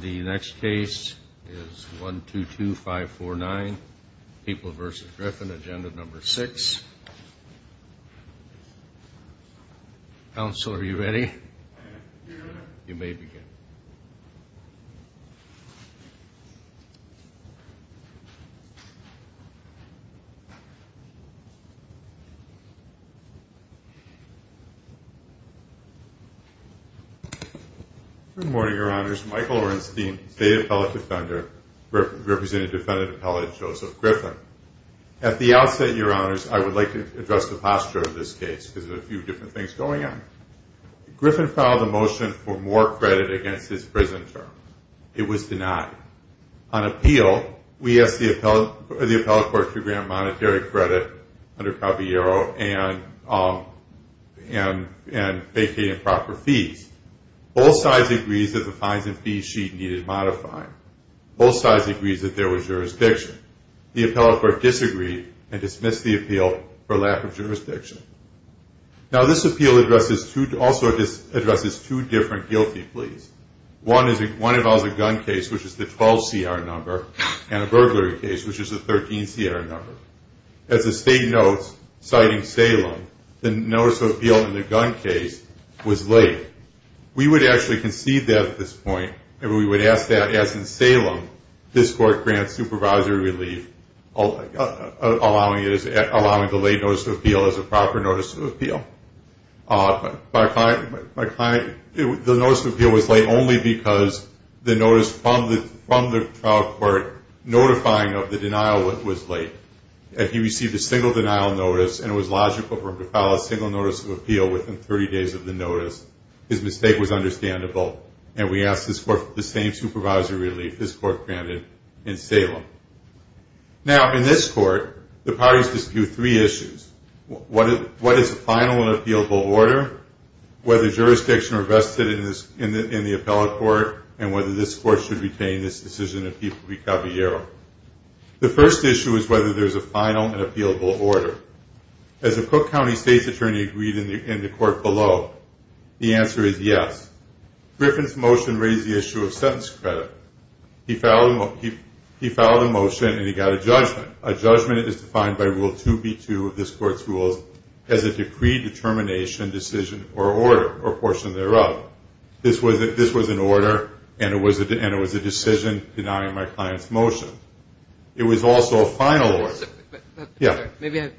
The next case is 122549, People v. Griffin, Agenda No. 6. Counsel, are you ready? You may begin. Good morning, Your Honors. Michael Orenstein, State Appellate Defender, representing Defendant Appellate Joseph Griffin. At the outset, Your Honors, I would like to address the posture of this case because there are a few different things going on. Griffin filed a motion for more credit against his prison terms. It was denied. On appeal, we asked the appellate court to grant monetary credit under Caballero and vacate improper fees. Both sides agreed that the fines and fees sheet needed modifying. Both sides agreed that there was jurisdiction. The appellate court disagreed and dismissed the appeal for lack of jurisdiction. Now, this appeal also addresses two different guilty pleas. One involves a gun case, which is the 12CR number, and a burglary case, which is the 13CR number. As the State notes, citing Salem, the notice of appeal in the gun case was late. We would actually concede that at this point, and we would ask that, as in Salem, this court grant supervisory relief, allowing the late notice of appeal as a proper notice of appeal. The notice of appeal was late only because the notice from the trial court notifying of the denial was late. He received a single denial notice, and it was logical for him to file a single notice of appeal within 30 days of the notice. His mistake was understandable, and we asked this court for the same supervisory relief. This court granted in Salem. Now, in this court, the parties dispute three issues. What is the final and appealable order, whether jurisdiction are vested in the appellate court, and whether this court should retain this decision in people v. Caballero. The first issue is whether there's a final and appealable order. As a Cook County State's attorney agreed in the court below, the answer is yes. Griffin's motion raised the issue of sentence credit. He filed a motion, and he got a judgment. A judgment is defined by Rule 2B2 of this court's rules as a decree determination decision or order or portion thereof. This was an order, and it was a decision denying my client's motion. It was also a final order. Yeah. Maybe I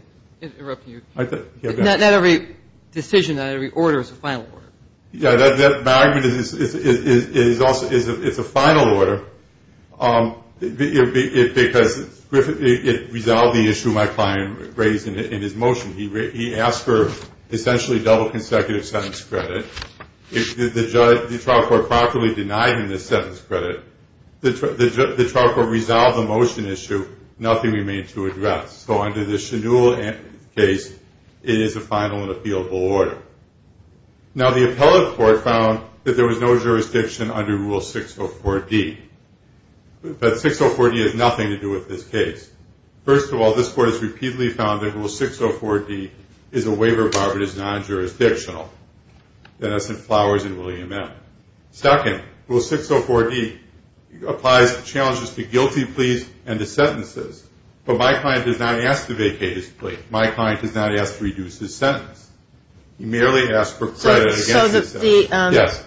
interrupted you. Not every decision, not every order is a final order. Yeah. My argument is it's a final order because it resolved the issue my client raised in his motion. He asked for essentially double consecutive sentence credit. If the trial court properly denied him the sentence credit, the trial court resolved the motion issue. Nothing remained to address. So under the Shannul case, it is a final and appealable order. Now, the appellate court found that there was no jurisdiction under Rule 604D. But 604D has nothing to do with this case. First of all, this court has repeatedly found that Rule 604D is a waiver bar that is non-jurisdictional. That's in Flowers and William M. Second, Rule 604D applies to challenges to guilty pleas and to sentences. But my client does not ask to vacate his plea. My client does not ask to reduce his sentence. He merely asks for credit against his sentence. So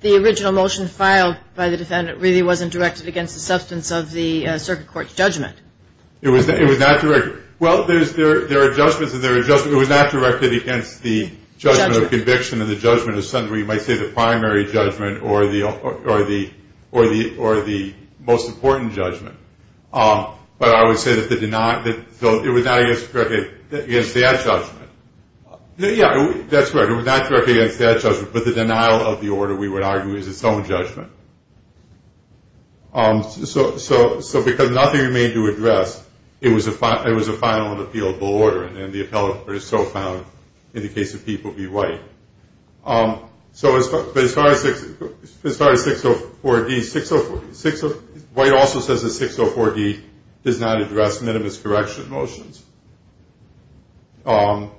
the original motion filed by the defendant really wasn't directed against the substance of the circuit court's judgment? It was not directed. Well, there are judgments and there are judgments. It was not directed against the judgment of conviction or the judgment of summary. You might say the primary judgment or the most important judgment. But I would say that it was not directed against that judgment. Yeah, that's right. It was not directed against that judgment. But the denial of the order, we would argue, is its own judgment. So because nothing remained to address, it was a final and appealable order. And the appellate court is so found, in the case of people v. White. So as far as 604D, White also says that 604D does not address minimus correction motions. So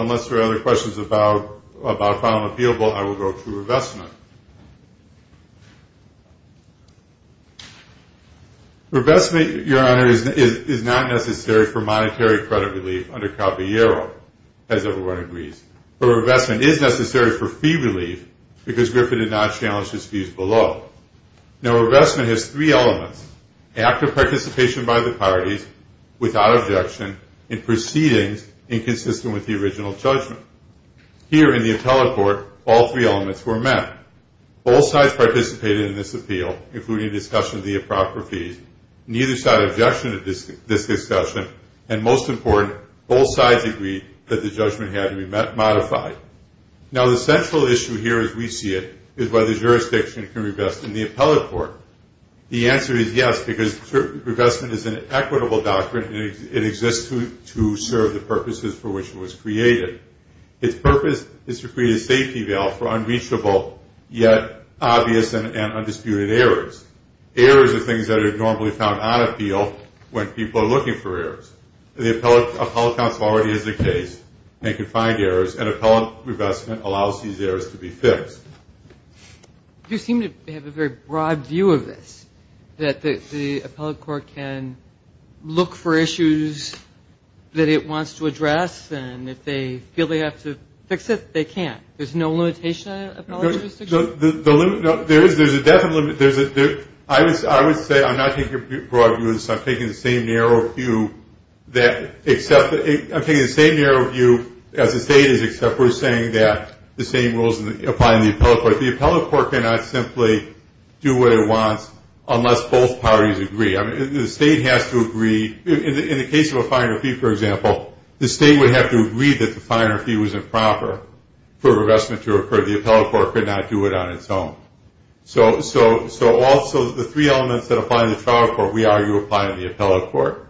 unless there are other questions about final and appealable, I will go to revestment. Revestment, Your Honor, is not necessary for monetary credit relief under Caballero, as everyone agrees. But revestment is necessary for fee relief because Griffin did not challenge his views below. Now, revestment has three elements, active participation by the parties without objection, and proceedings inconsistent with the original judgment. Here in the appellate court, all three elements were met. Both sides participated in this appeal, including discussion of the improper fees. Neither side objected to this discussion. And most important, both sides agreed that the judgment had to be modified. Now, the central issue here, as we see it, is whether jurisdiction can revest in the appellate court. The answer is yes, because revestment is an equitable doctrine, and it exists to serve the purposes for which it was created. Its purpose is to create a safety valve for unreachable, yet obvious and undisputed errors. Errors are things that are normally found on appeal when people are looking for errors. The appellate counsel already has a case, and they can find errors, and appellate revestment allows these errors to be fixed. You seem to have a very broad view of this, that the appellate court can look for issues that it wants to address, and if they feel they have to fix it, they can. There's no limitation on an appellate jurisdiction? There is a definite limit. I would say I'm not taking a broad view of this. I'm taking the same narrow view as the state is, except we're saying that the same rules apply in the appellate court. The appellate court cannot simply do what it wants unless both parties agree. The state has to agree. In the case of a fine or fee, for example, the state would have to agree that the fine or fee was improper for a revestment to occur. The appellate court cannot do it on its own. So also the three elements that apply in the trial court we argue apply in the appellate court.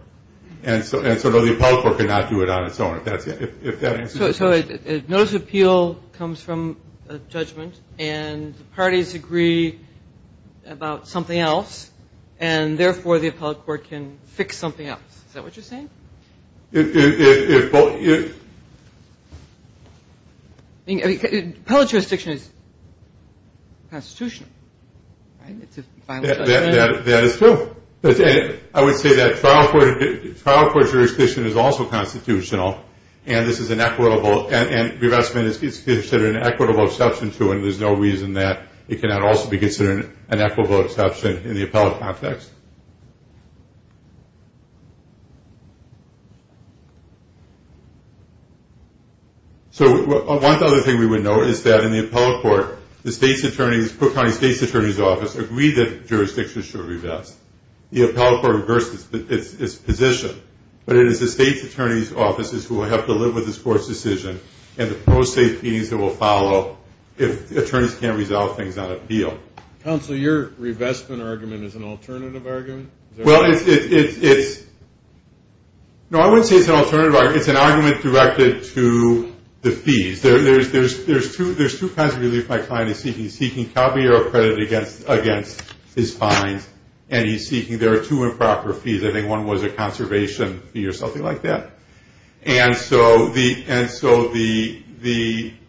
And so no, the appellate court cannot do it on its own, if that answers your question. So a notice of appeal comes from a judgment, and the parties agree about something else, and therefore the appellate court can fix something else. Is that what you're saying? Appellate jurisdiction is constitutional, right? That is true. I would say that trial court jurisdiction is also constitutional, and this is an equitable, and revestment is considered an equitable exception to, and there's no reason that it cannot also be considered an equitable exception in the appellate context. So one other thing we would note is that in the appellate court, the Cook County state's attorney's office agreed that jurisdiction should revest. The appellate court reversed its position, but it is the state's attorney's offices who will have to live with this court's decision, and the pro se feelings that will follow if attorneys can't resolve things on appeal. Counsel, your revestment argument is an alternative argument? Well, it's an argument directed to the fees. There's two kinds of relief my client is seeking. He's seeking Calvary or accredited against his fines, and he's seeking there are two improper fees. I think one was a conservation fee or something like that. And so the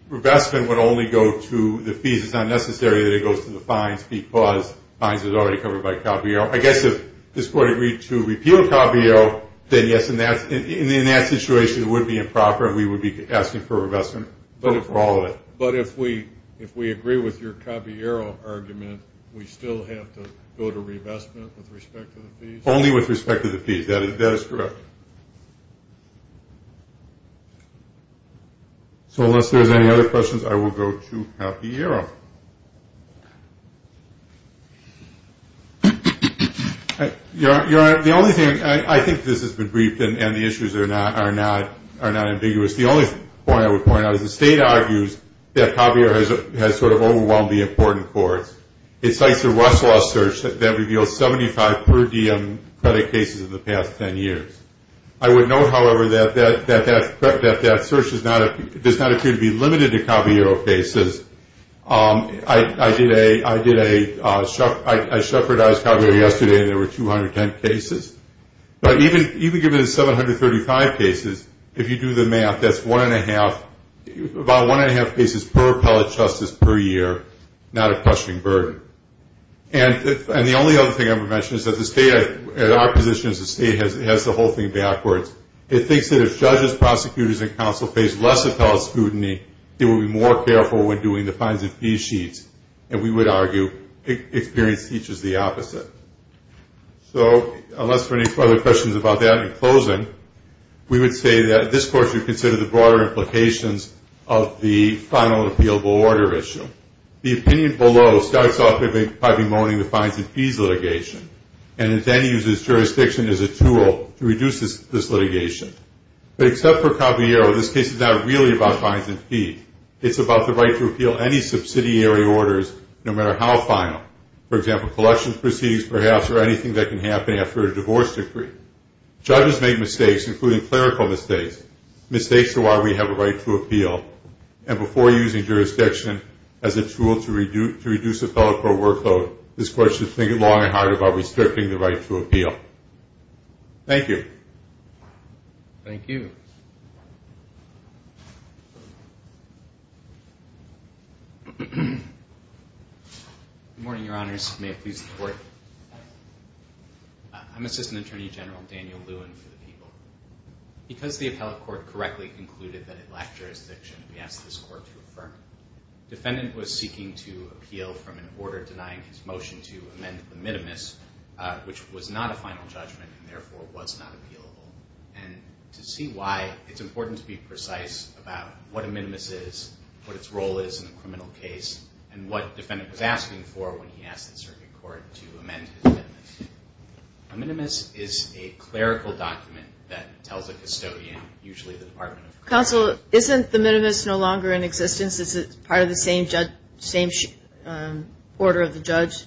revestment would only go to the fees. It's not necessary that it goes to the fines because fines are already covered by Calvary. I guess if this court agreed to repeal Calvary, then yes, in that situation it would be improper, and we would be asking for revestment for all of it. But if we agree with your Calvary argument, we still have to go to revestment with respect to the fees? Only with respect to the fees. That is correct. So unless there's any other questions, I will go to Javier. Your Honor, the only thing, I think this has been briefed, and the issues are not ambiguous. The only point I would point out is the state argues that Javier has sort of overwhelmed the important courts. It cites a Rush Law search that reveals 75 per diem credit cases in the past 10 years. I would note, however, that that search does not appear to be limited to Caballero cases. I shepherdized Caballero yesterday, and there were 210 cases. But even given the 735 cases, if you do the math, that's one and a half, about one and a half cases per appellate justice per year, not a questioning burden. And the only other thing I would mention is that the state, at our position as a state, has the whole thing backwards. It thinks that if judges, prosecutors, and counsel face less appellate scrutiny, they will be more careful when doing the fines and fees sheets, and we would argue experience teaches the opposite. So unless there are any further questions about that, in closing, we would say that this court should consider the broader implications of the final appealable order issue. The opinion below starts off by bemoaning the fines and fees litigation, and it then uses jurisdiction as a tool to reduce this litigation. But except for Caballero, this case is not really about fines and fees. It's about the right to appeal any subsidiary orders, no matter how final. For example, collections proceedings, perhaps, or anything that can happen after a divorce decree. Judges make mistakes, including clerical mistakes, mistakes to why we have a right to appeal. And before using jurisdiction as a tool to reduce appellate court workload, this court should think long and hard about restricting the right to appeal. Thank you. Thank you. May it please the Court. I'm Assistant Attorney General Daniel Lewin for the People. Because the appellate court correctly concluded that it lacked jurisdiction, we asked this court to affirm it. Defendant was seeking to appeal from an order denying his motion to amend the minimus, which was not a final judgment and therefore was not appealable. And to see why, it's important to be precise about what a minimus is, what its role is in a criminal case, and what defendant was asking for when he asked the circuit court to amend his minimus. A minimus is a clerical document that tells a custodian, usually the Department of Corrections. Counsel, isn't the minimus no longer in existence? Is it part of the same order of the judge?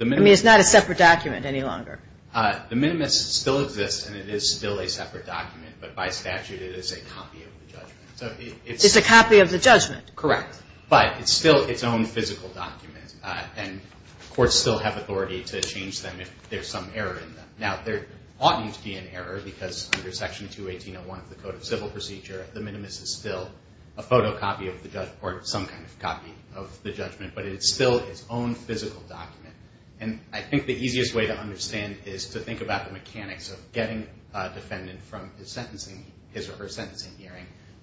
I mean, it's not a separate document any longer. The minimus still exists and it is still a separate document, but by statute it is a copy of the judgment. It's a copy of the judgment. Correct. But it's still its own physical document. And courts still have authority to change them if there's some error in them. Now, there oughtn't to be an error because under Section 218.01 of the Code of Civil Procedure, the minimus is still a photocopy of the judge or some kind of copy of the judgment, but it's still its own physical document. And I think the easiest way to understand is to think about the mechanics of getting a defendant from his sentencing,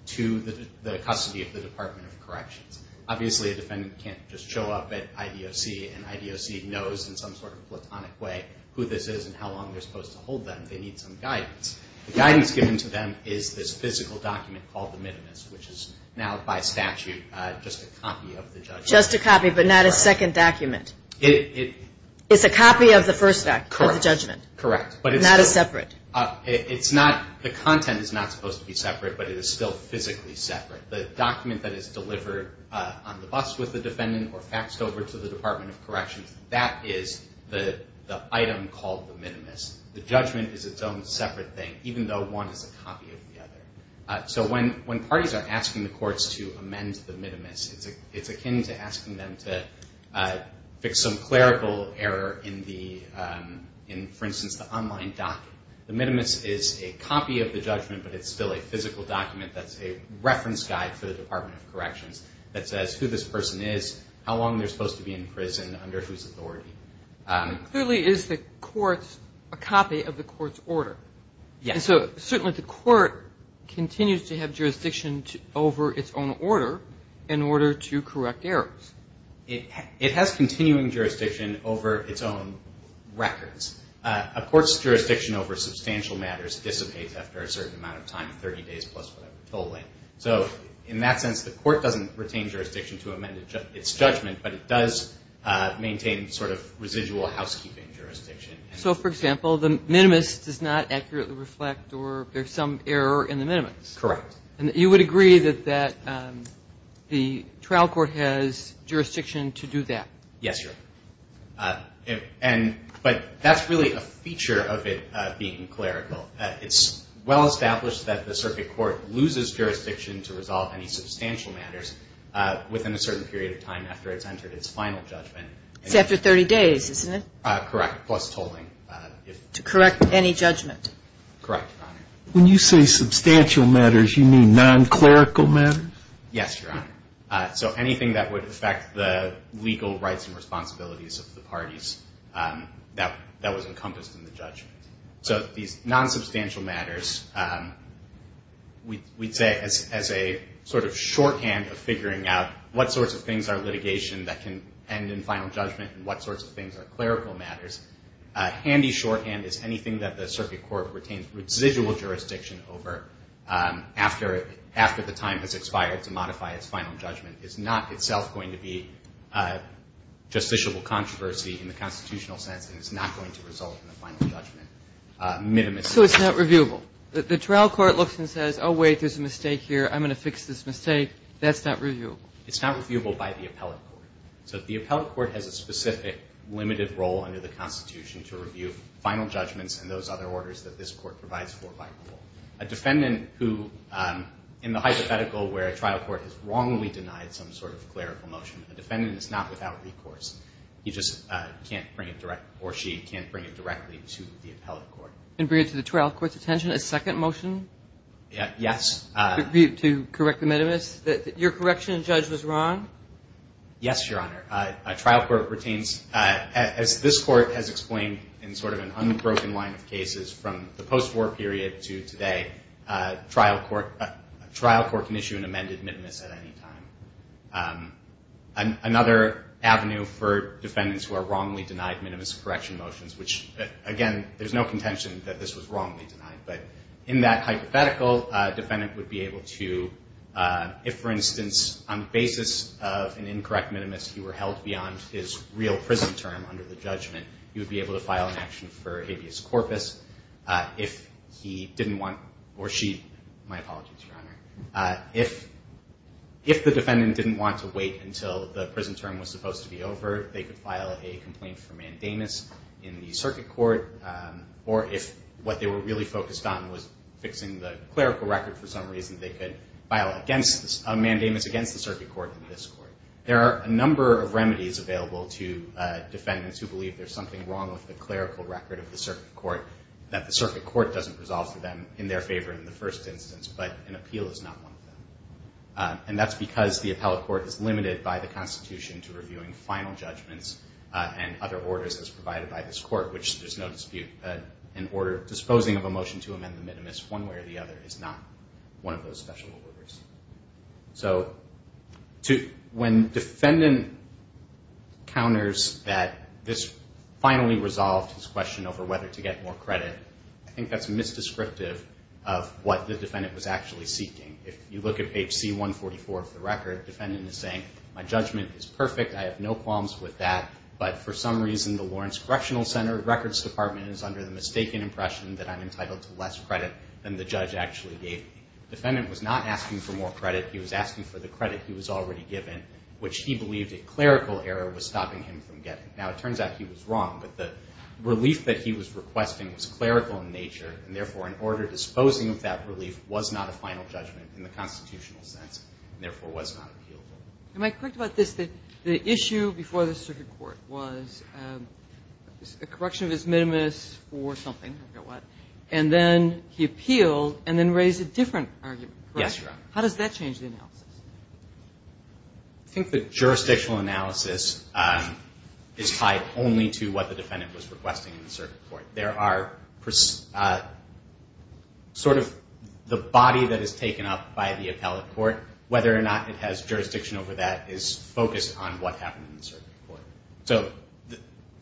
to the custody of the Department of Corrections. Obviously, a defendant can't just show up at IDOC and IDOC knows in some sort of platonic way who this is and how long they're supposed to hold them. They need some guidance. The guidance given to them is this physical document called the minimus, which is now by statute just a copy of the judgment. Just a copy, but not a second document. It's a copy of the first act, of the judgment. Correct. But it's not a separate. The content is not supposed to be separate, but it is still physically separate. The document that is delivered on the bus with the defendant or faxed over to the Department of Corrections, that is the item called the minimus. The judgment is its own separate thing, even though one is a copy of the other. So when parties are asking the courts to amend the minimus, it's akin to asking them to fix some clerical error in, for instance, the online docket. The minimus is a copy of the judgment, but it's still a physical document that's a reference guide for the Department of Corrections that says who this person is, how long they're supposed to be in prison, under whose authority. Clearly, is the courts a copy of the court's order? Yes. So certainly the court continues to have jurisdiction over its own order in order to correct errors. It has continuing jurisdiction over its own records. A court's jurisdiction over substantial matters dissipates after a certain amount of time, 30 days plus whatever, totally. So in that sense, the court doesn't retain jurisdiction to amend its judgment, but it does maintain sort of residual housekeeping jurisdiction. So, for example, the minimus does not accurately reflect or there's some error in the minimus? Correct. And you would agree that the trial court has jurisdiction to do that? Yes, Your Honor. But that's really a feature of it being clerical. It's well established that the circuit court loses jurisdiction to resolve any substantial matters within a certain period of time after it's entered its final judgment. It's after 30 days, isn't it? Correct, plus tolling. To correct any judgment? Correct, Your Honor. When you say substantial matters, you mean non-clerical matters? Yes, Your Honor. So anything that would affect the legal rights and responsibilities of the parties, that was encompassed in the judgment. So these non-substantial matters, we'd say as a sort of shorthand of figuring out what sorts of things are litigation that can end in final judgment and what sorts of things are clerical matters, a handy shorthand is anything that the circuit court retains residual jurisdiction over after the time has expired to modify its final judgment is not itself going to be justiciable controversy in the constitutional sense and is not going to result in a final judgment, minimus. So it's not reviewable? The trial court looks and says, oh, wait, there's a mistake here. I'm going to fix this mistake. That's not reviewable? It's not reviewable by the appellate court. So the appellate court has a specific limited role under the Constitution to review final judgments and those other orders that this court provides for by rule. A defendant who, in the hypothetical where a trial court has wrongly denied some sort of clerical motion, a defendant is not without recourse. He just can't bring it direct or she can't bring it directly to the appellate court. And bring it to the trial court's attention, a second motion? Yes. To correct the minimus? Your correction judge was wrong? Yes, Your Honor. A trial court retains, as this court has explained in sort of an unbroken line of cases from the post-war period to today, a trial court can issue an amended minimus at any time. Another avenue for defendants who are wrongly denied minimus correction motions, which, again, there's no contention that this was wrongly denied, but in that hypothetical, a defendant would be able to, if, for instance, on the basis of an incorrect minimus, he were held beyond his real prison term under the judgment, he would be able to file an action for habeas corpus. If he didn't want, or she, my apologies, Your Honor, if the defendant didn't want to wait until the prison term was supposed to be over, they could file a complaint for mandamus in the circuit court. Or if what they were really focused on was fixing the clerical record for some reason, they could file a mandamus against the circuit court in this court. There are a number of remedies available to defendants who believe there's something wrong with the clerical record of the circuit court, that the circuit court doesn't resolve for them in their favor in the first instance, but an appeal is not one of them. And that's because the appellate court is limited by the Constitution to reviewing final judgments and other orders as provided by this court, which there's no dispute that an order disposing of a motion to amend the minimus one way or the other is not one of those special orders. So when defendant counters that this finally resolved his question over whether to get more credit, I think that's misdescriptive of what the defendant was actually seeking. If you look at page C144 of the record, the defendant is saying, My judgment is perfect. I have no qualms with that. But for some reason, the Lawrence Correctional Center Records Department is under the mistaken impression that I'm entitled to less credit than the judge actually gave me. The defendant was not asking for more credit. He was asking for the credit he was already given, which he believed a clerical error was stopping him from getting. Now, it turns out he was wrong, but the relief that he was requesting was clerical in nature, and therefore an order disposing of that relief was not a final judgment in the constitutional sense and therefore was not appealable. Am I correct about this? The issue before the circuit court was a correction of his minimus for something, I forget what, and then he appealed and then raised a different argument, correct? Yes, Your Honor. How does that change the analysis? I think the jurisdictional analysis is tied only to what the defendant was requesting in the circuit court. There are sort of the body that is taken up by the appellate court, whether or not it has jurisdiction over that is focused on what happened in the circuit court.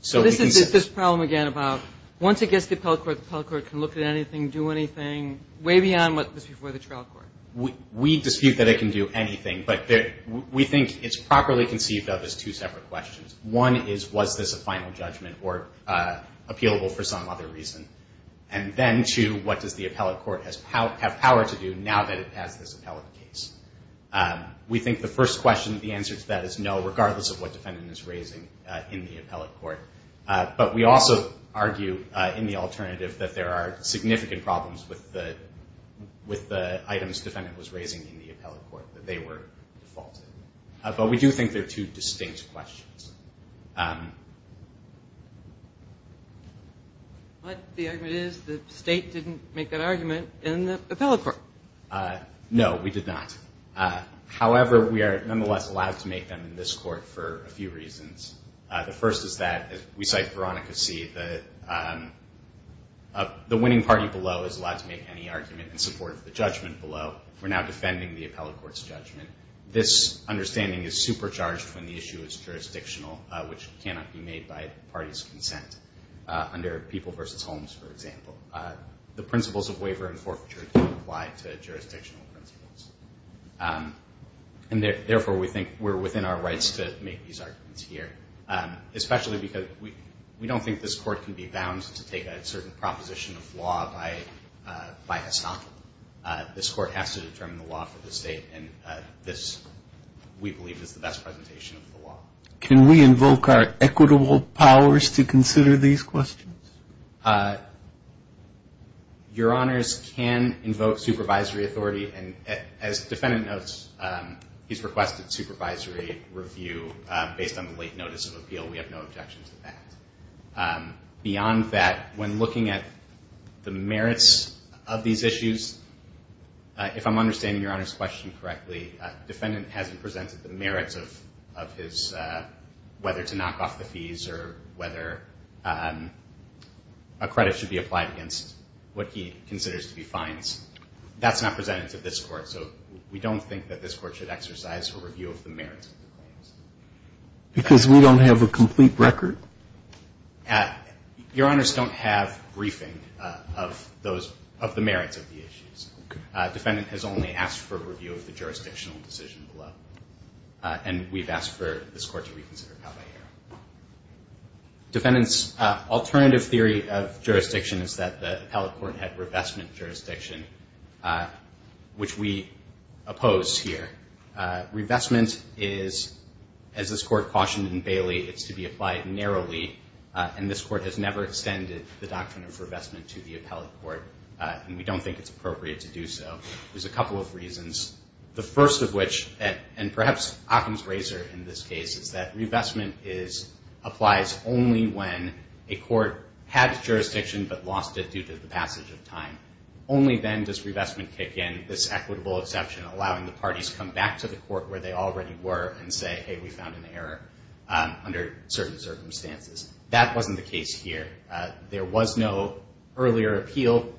So this is this problem again about once it gets to the appellate court, the appellate court can look at anything, do anything, way beyond what was before the trial court. We dispute that it can do anything, but we think it's properly conceived of as two separate questions. One is was this a final judgment or appealable for some other reason? And then two, what does the appellate court have power to do now that it has this appellate case? We think the first question, the answer to that is no, regardless of what defendant is raising in the appellate court. But we also argue in the alternative that there are significant problems with the items defendant was raising in the appellate court, that they were defaulted. But we do think they're two distinct questions. But the argument is the state didn't make that argument in the appellate court. No, we did not. However, we are nonetheless allowed to make them in this court for a few reasons. The first is that, as we cite Veronica C., the winning party below is allowed to make any argument in support of the judgment below. We're now defending the appellate court's judgment. This understanding is supercharged when the issue is jurisdictional, which cannot be made by parties' consent. Under People v. Holmes, for example, the principles of waiver and forfeiture don't apply to jurisdictional principles. And therefore, we think we're within our rights to make these arguments here, especially because we don't think this court can be bound to take a certain proposition of law by estoppel. This court has to determine the law for the state, and this, we believe, is the best presentation of the law. Can we invoke our equitable powers to consider these questions? Your Honors, can invoke supervisory authority. And as the defendant notes, he's requested supervisory review based on the late notice of appeal. We have no objections to that. Beyond that, when looking at the merits of these issues, if I'm understanding Your Honors' question correctly, defendant hasn't presented the merits of his whether to knock off the fees or whether a credit should be applied against what he considers to be fines. That's not presented to this court, so we don't think that this court should exercise a review of the merits of the claims. Because we don't have a complete record? Your Honors, don't have briefing of those, of the merits of the issues. Defendant has only asked for review of the jurisdictional decision below, and we've asked for this court to reconsider it. Defendant's alternative theory of jurisdiction is that the appellate court had revestment jurisdiction, which we oppose here. Revestment is, as this court cautioned in Bailey, it's to be applied narrowly, and this court has never extended the doctrine of revestment to the appellate court, and we don't think it's appropriate to do so. There's a couple of reasons. The first of which, and perhaps Occam's razor in this case, is that revestment applies only when a court had jurisdiction but lost it due to the passage of time. Only then does revestment kick in, this equitable exception, allowing the parties to come back to the court where they already were and say, hey, we found an error under certain circumstances. That wasn't the case here. There was no earlier appeal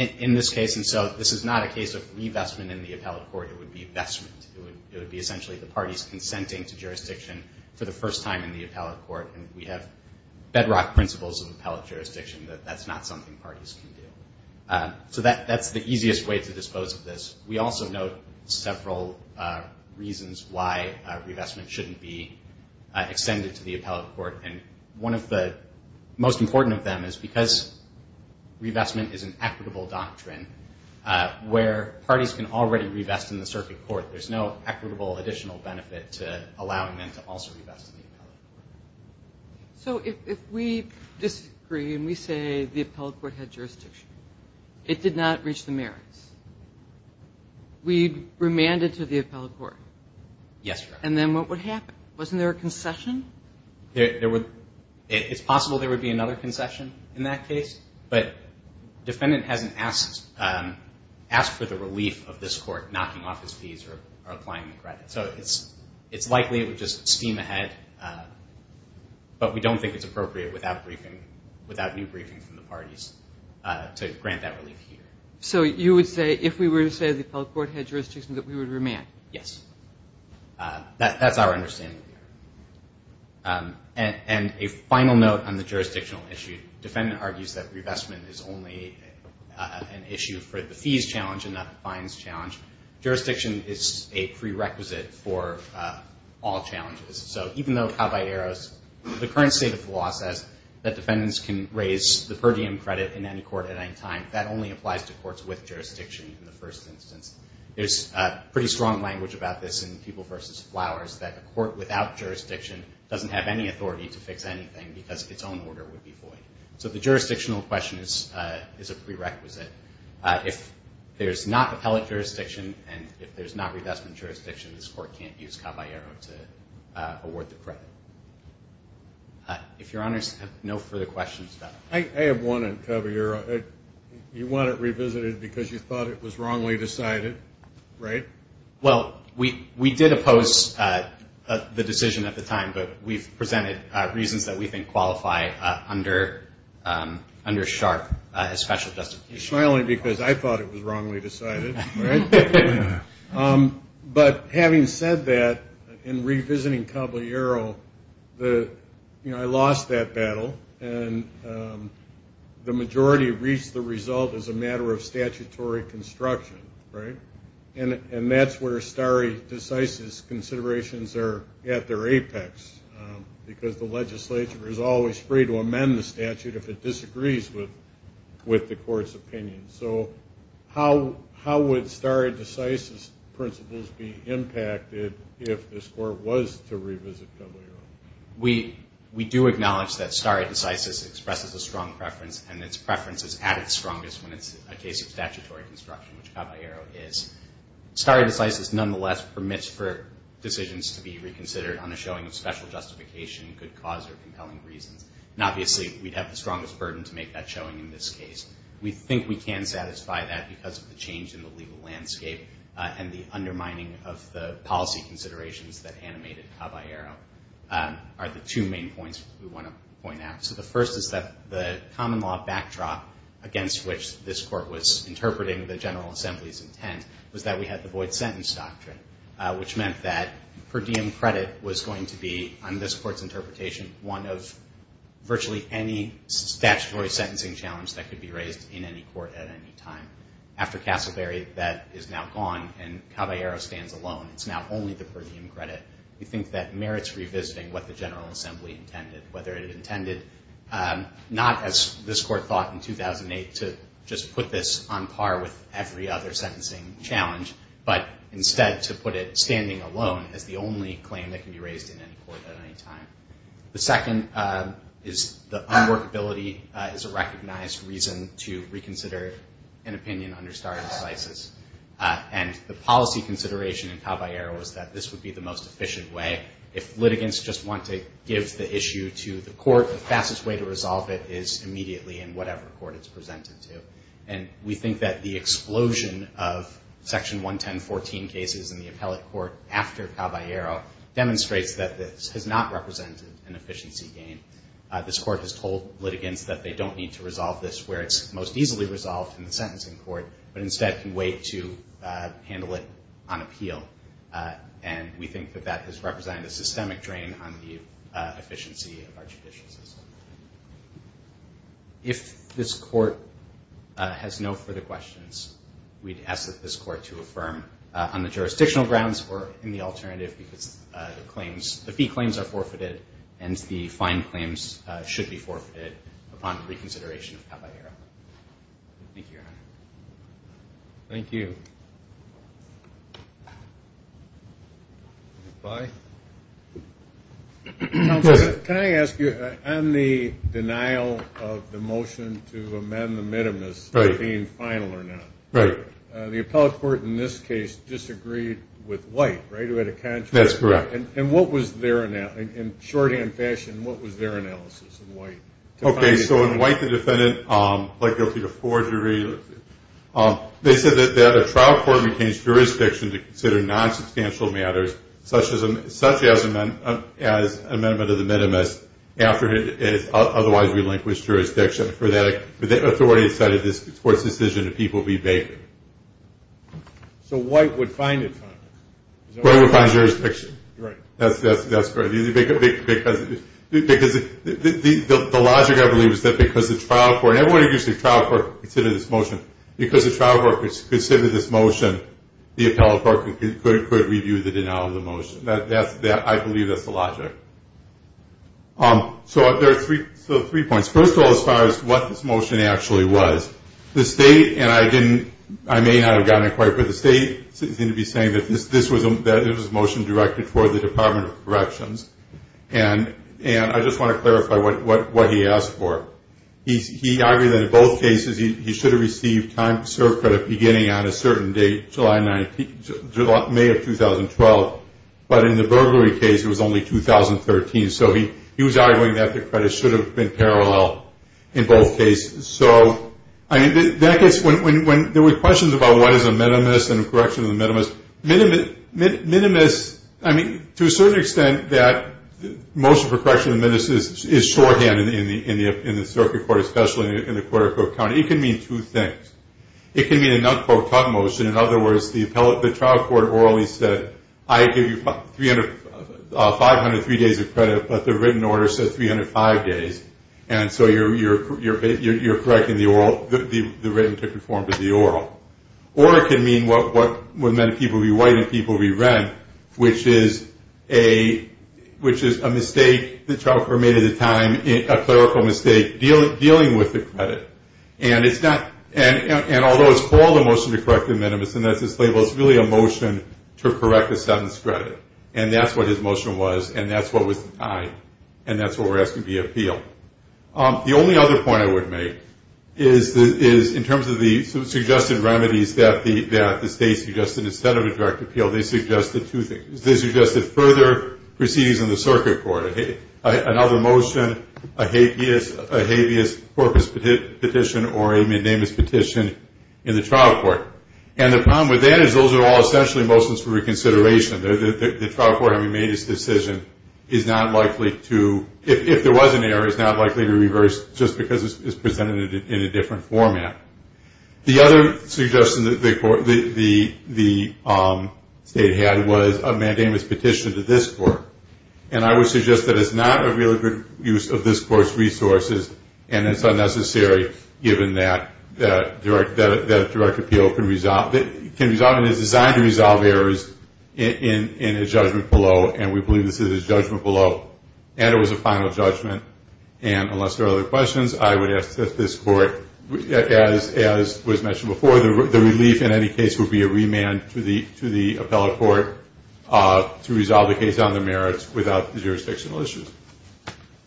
in this case, and so this is not a case of revestment in the appellate court. It would be investment. It would be essentially the parties consenting to jurisdiction for the first time in the appellate court, and we have bedrock principles of appellate jurisdiction that that's not something parties can do. So that's the easiest way to dispose of this. We also note several reasons why revestment shouldn't be extended to the appellate court, and one of the most important of them is because revestment is an equitable doctrine where parties can already revest in the circuit court. There's no equitable additional benefit to allowing them to also revest in the appellate court. So if we disagree and we say the appellate court had jurisdiction, it did not reach the merits, we'd remand it to the appellate court. Yes, Your Honor. And then what would happen? Wasn't there a concession? It's possible there would be another concession in that case, but defendant hasn't asked for the relief of this court knocking off his fees or applying the credit. So it's likely it would just steam ahead, but we don't think it's appropriate without new briefing from the parties to grant that relief here. So you would say if we were to say the appellate court had jurisdiction that we would remand? Yes. That's our understanding. And a final note on the jurisdictional issue. Defendant argues that revestment is only an issue for the fees challenge and not the fines challenge. Jurisdiction is a prerequisite for all challenges. So even though Caballeros, the current state of the law says that defendants can raise the per diem credit in any court at any time, that only applies to courts with jurisdiction in the first instance. There's pretty strong language about this in People v. Flowers that a court without jurisdiction doesn't have any authority to fix anything because its own order would be void. So the jurisdictional question is a prerequisite. If there's not appellate jurisdiction and if there's not revestment jurisdiction, this court can't use Caballero to award the credit. If Your Honors have no further questions. I have one on Caballero. You want it revisited because you thought it was wrongly decided, right? Well, we did oppose the decision at the time, but we've presented reasons that we think qualify under SHARP as special justification. It's not only because I thought it was wrongly decided, right? But having said that, in revisiting Caballero, I lost that battle, and the majority reached the result as a matter of statutory construction, right? And that's where stare decisis considerations are at their apex because the legislature is always free to amend the statute if it disagrees with the court's opinion. So how would stare decisis principles be impacted if this court was to revisit Caballero? We do acknowledge that stare decisis expresses a strong preference, and its preference is at its strongest when it's a case of statutory construction, which Caballero is. Stare decisis nonetheless permits for decisions to be reconsidered on a showing of special justification, good cause, or compelling reasons. And obviously, we'd have the strongest burden to make that showing in this case. We think we can satisfy that because of the change in the legal landscape and the undermining of the policy considerations that animated Caballero are the two main points we want to point out. So the first is that the common law backdrop against which this court was interpreting the General Assembly's intent was that we had the void sentence doctrine, which meant that per diem credit was going to be, on this court's interpretation, one of virtually any statutory sentencing challenge that could be raised in any court at any time. After Castleberry, that is now gone, and Caballero stands alone. It's now only the per diem credit. We think that merits revisiting what the General Assembly intended, whether it intended not, as this court thought in 2008, to just put this on par with every other sentencing challenge, but instead to put it standing alone as the only claim that can be raised in any court at any time. The second is the unworkability is a recognized reason to reconsider an opinion under stare decisis. And the policy consideration in Caballero is that this would be the most efficient way. If litigants just want to give the issue to the court, the fastest way to resolve it is immediately in whatever court it's presented to. And we think that the explosion of Section 110.14 cases in the appellate court after Caballero demonstrates that this has not represented an efficiency gain. This court has told litigants that they don't need to resolve this where it's most easily resolved in the sentencing court, but instead can wait to handle it on appeal. And we think that that has represented a systemic drain on the efficiency of our judicial system. If this court has no further questions, we'd ask that this court to affirm on the jurisdictional grounds or in the alternative because the fee claims are forfeited and the fine claims should be forfeited upon reconsideration of Caballero. Thank you, Your Honor. Thank you. Bye. Counsel, can I ask you on the denial of the motion to amend the minimus, being final or not. Right. The appellate court in this case disagreed with White, right, who had a contract. That's correct. And what was their, in shorthand fashion, what was their analysis of White? Okay, so in White, the defendant pled guilty to forgery. They said that a trial court retains jurisdiction to consider nonsubstantial matters, such as an amendment of the minimus after it has otherwise relinquished jurisdiction. For that, the authority decided this court's decision to people be vacant. So White would find it fine? White would find jurisdiction. That's correct. Because the logic I believe is that because the trial court, and I want to use the trial court to consider this motion, because the trial court considered this motion, the appellate court could review the denial of the motion. I believe that's the logic. So there are three points. First of all, as far as what this motion actually was, the state, and I didn't, I may not have gotten it quite, but the state seemed to be saying that this was a motion directed toward the Department of Corrections. And I just want to clarify what he asked for. He argued that in both cases, he should have received time to serve credit beginning on a certain date, May of 2012. But in the burglary case, it was only 2013. So he was arguing that the credit should have been parallel in both cases. So, I mean, there were questions about what is a minimus and a correction of the minimus. Minimus, I mean, to a certain extent that motion for correction of the minimus is shorthand in the circuit court, especially in the quarter court county. It can mean two things. It can mean a not-quote-cut motion. In other words, the trial court orally said, I give you 500 three days of credit, but the written order says 305 days. And so you're correcting the written to conform to the oral. Or it can mean what would meant people would be white and people would be red, which is a mistake the trial court made at the time, a clerical mistake dealing with the credit. And although it's called a motion to correct the minimus and that's its label, it's really a motion to correct a sentence credit. And that's what his motion was, and that's what was denied. And that's what we're asking to be appealed. The only other point I would make is in terms of the suggested remedies that the state suggested instead of a direct appeal, they suggested two things. They suggested further proceedings in the circuit court, another motion, a habeas corpus petition, or a mandamus petition in the trial court. And the problem with that is those are all essentially motions for reconsideration. The trial court having made its decision is not likely to, if there was an error, is not likely to reverse just because it's presented in a different format. The other suggestion that the state had was a mandamus petition to this court. And I would suggest that it's not a really good use of this court's resources, and it's unnecessary given that a direct appeal can resolve, and is designed to resolve errors in a judgment below. And we believe this is a judgment below. And it was a final judgment. And unless there are other questions, I would ask that this court, as was mentioned before, the relief in any case would be a remand to the merits without jurisdictional issues.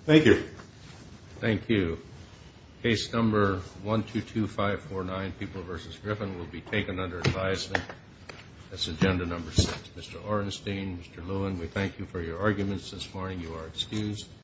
Thank you. Thank you. Case number 122549, People v. Griffin, will be taken under advisement. That's agenda number six. Mr. Orenstein, Mr. Lewin, we thank you for your arguments this morning. You are excused.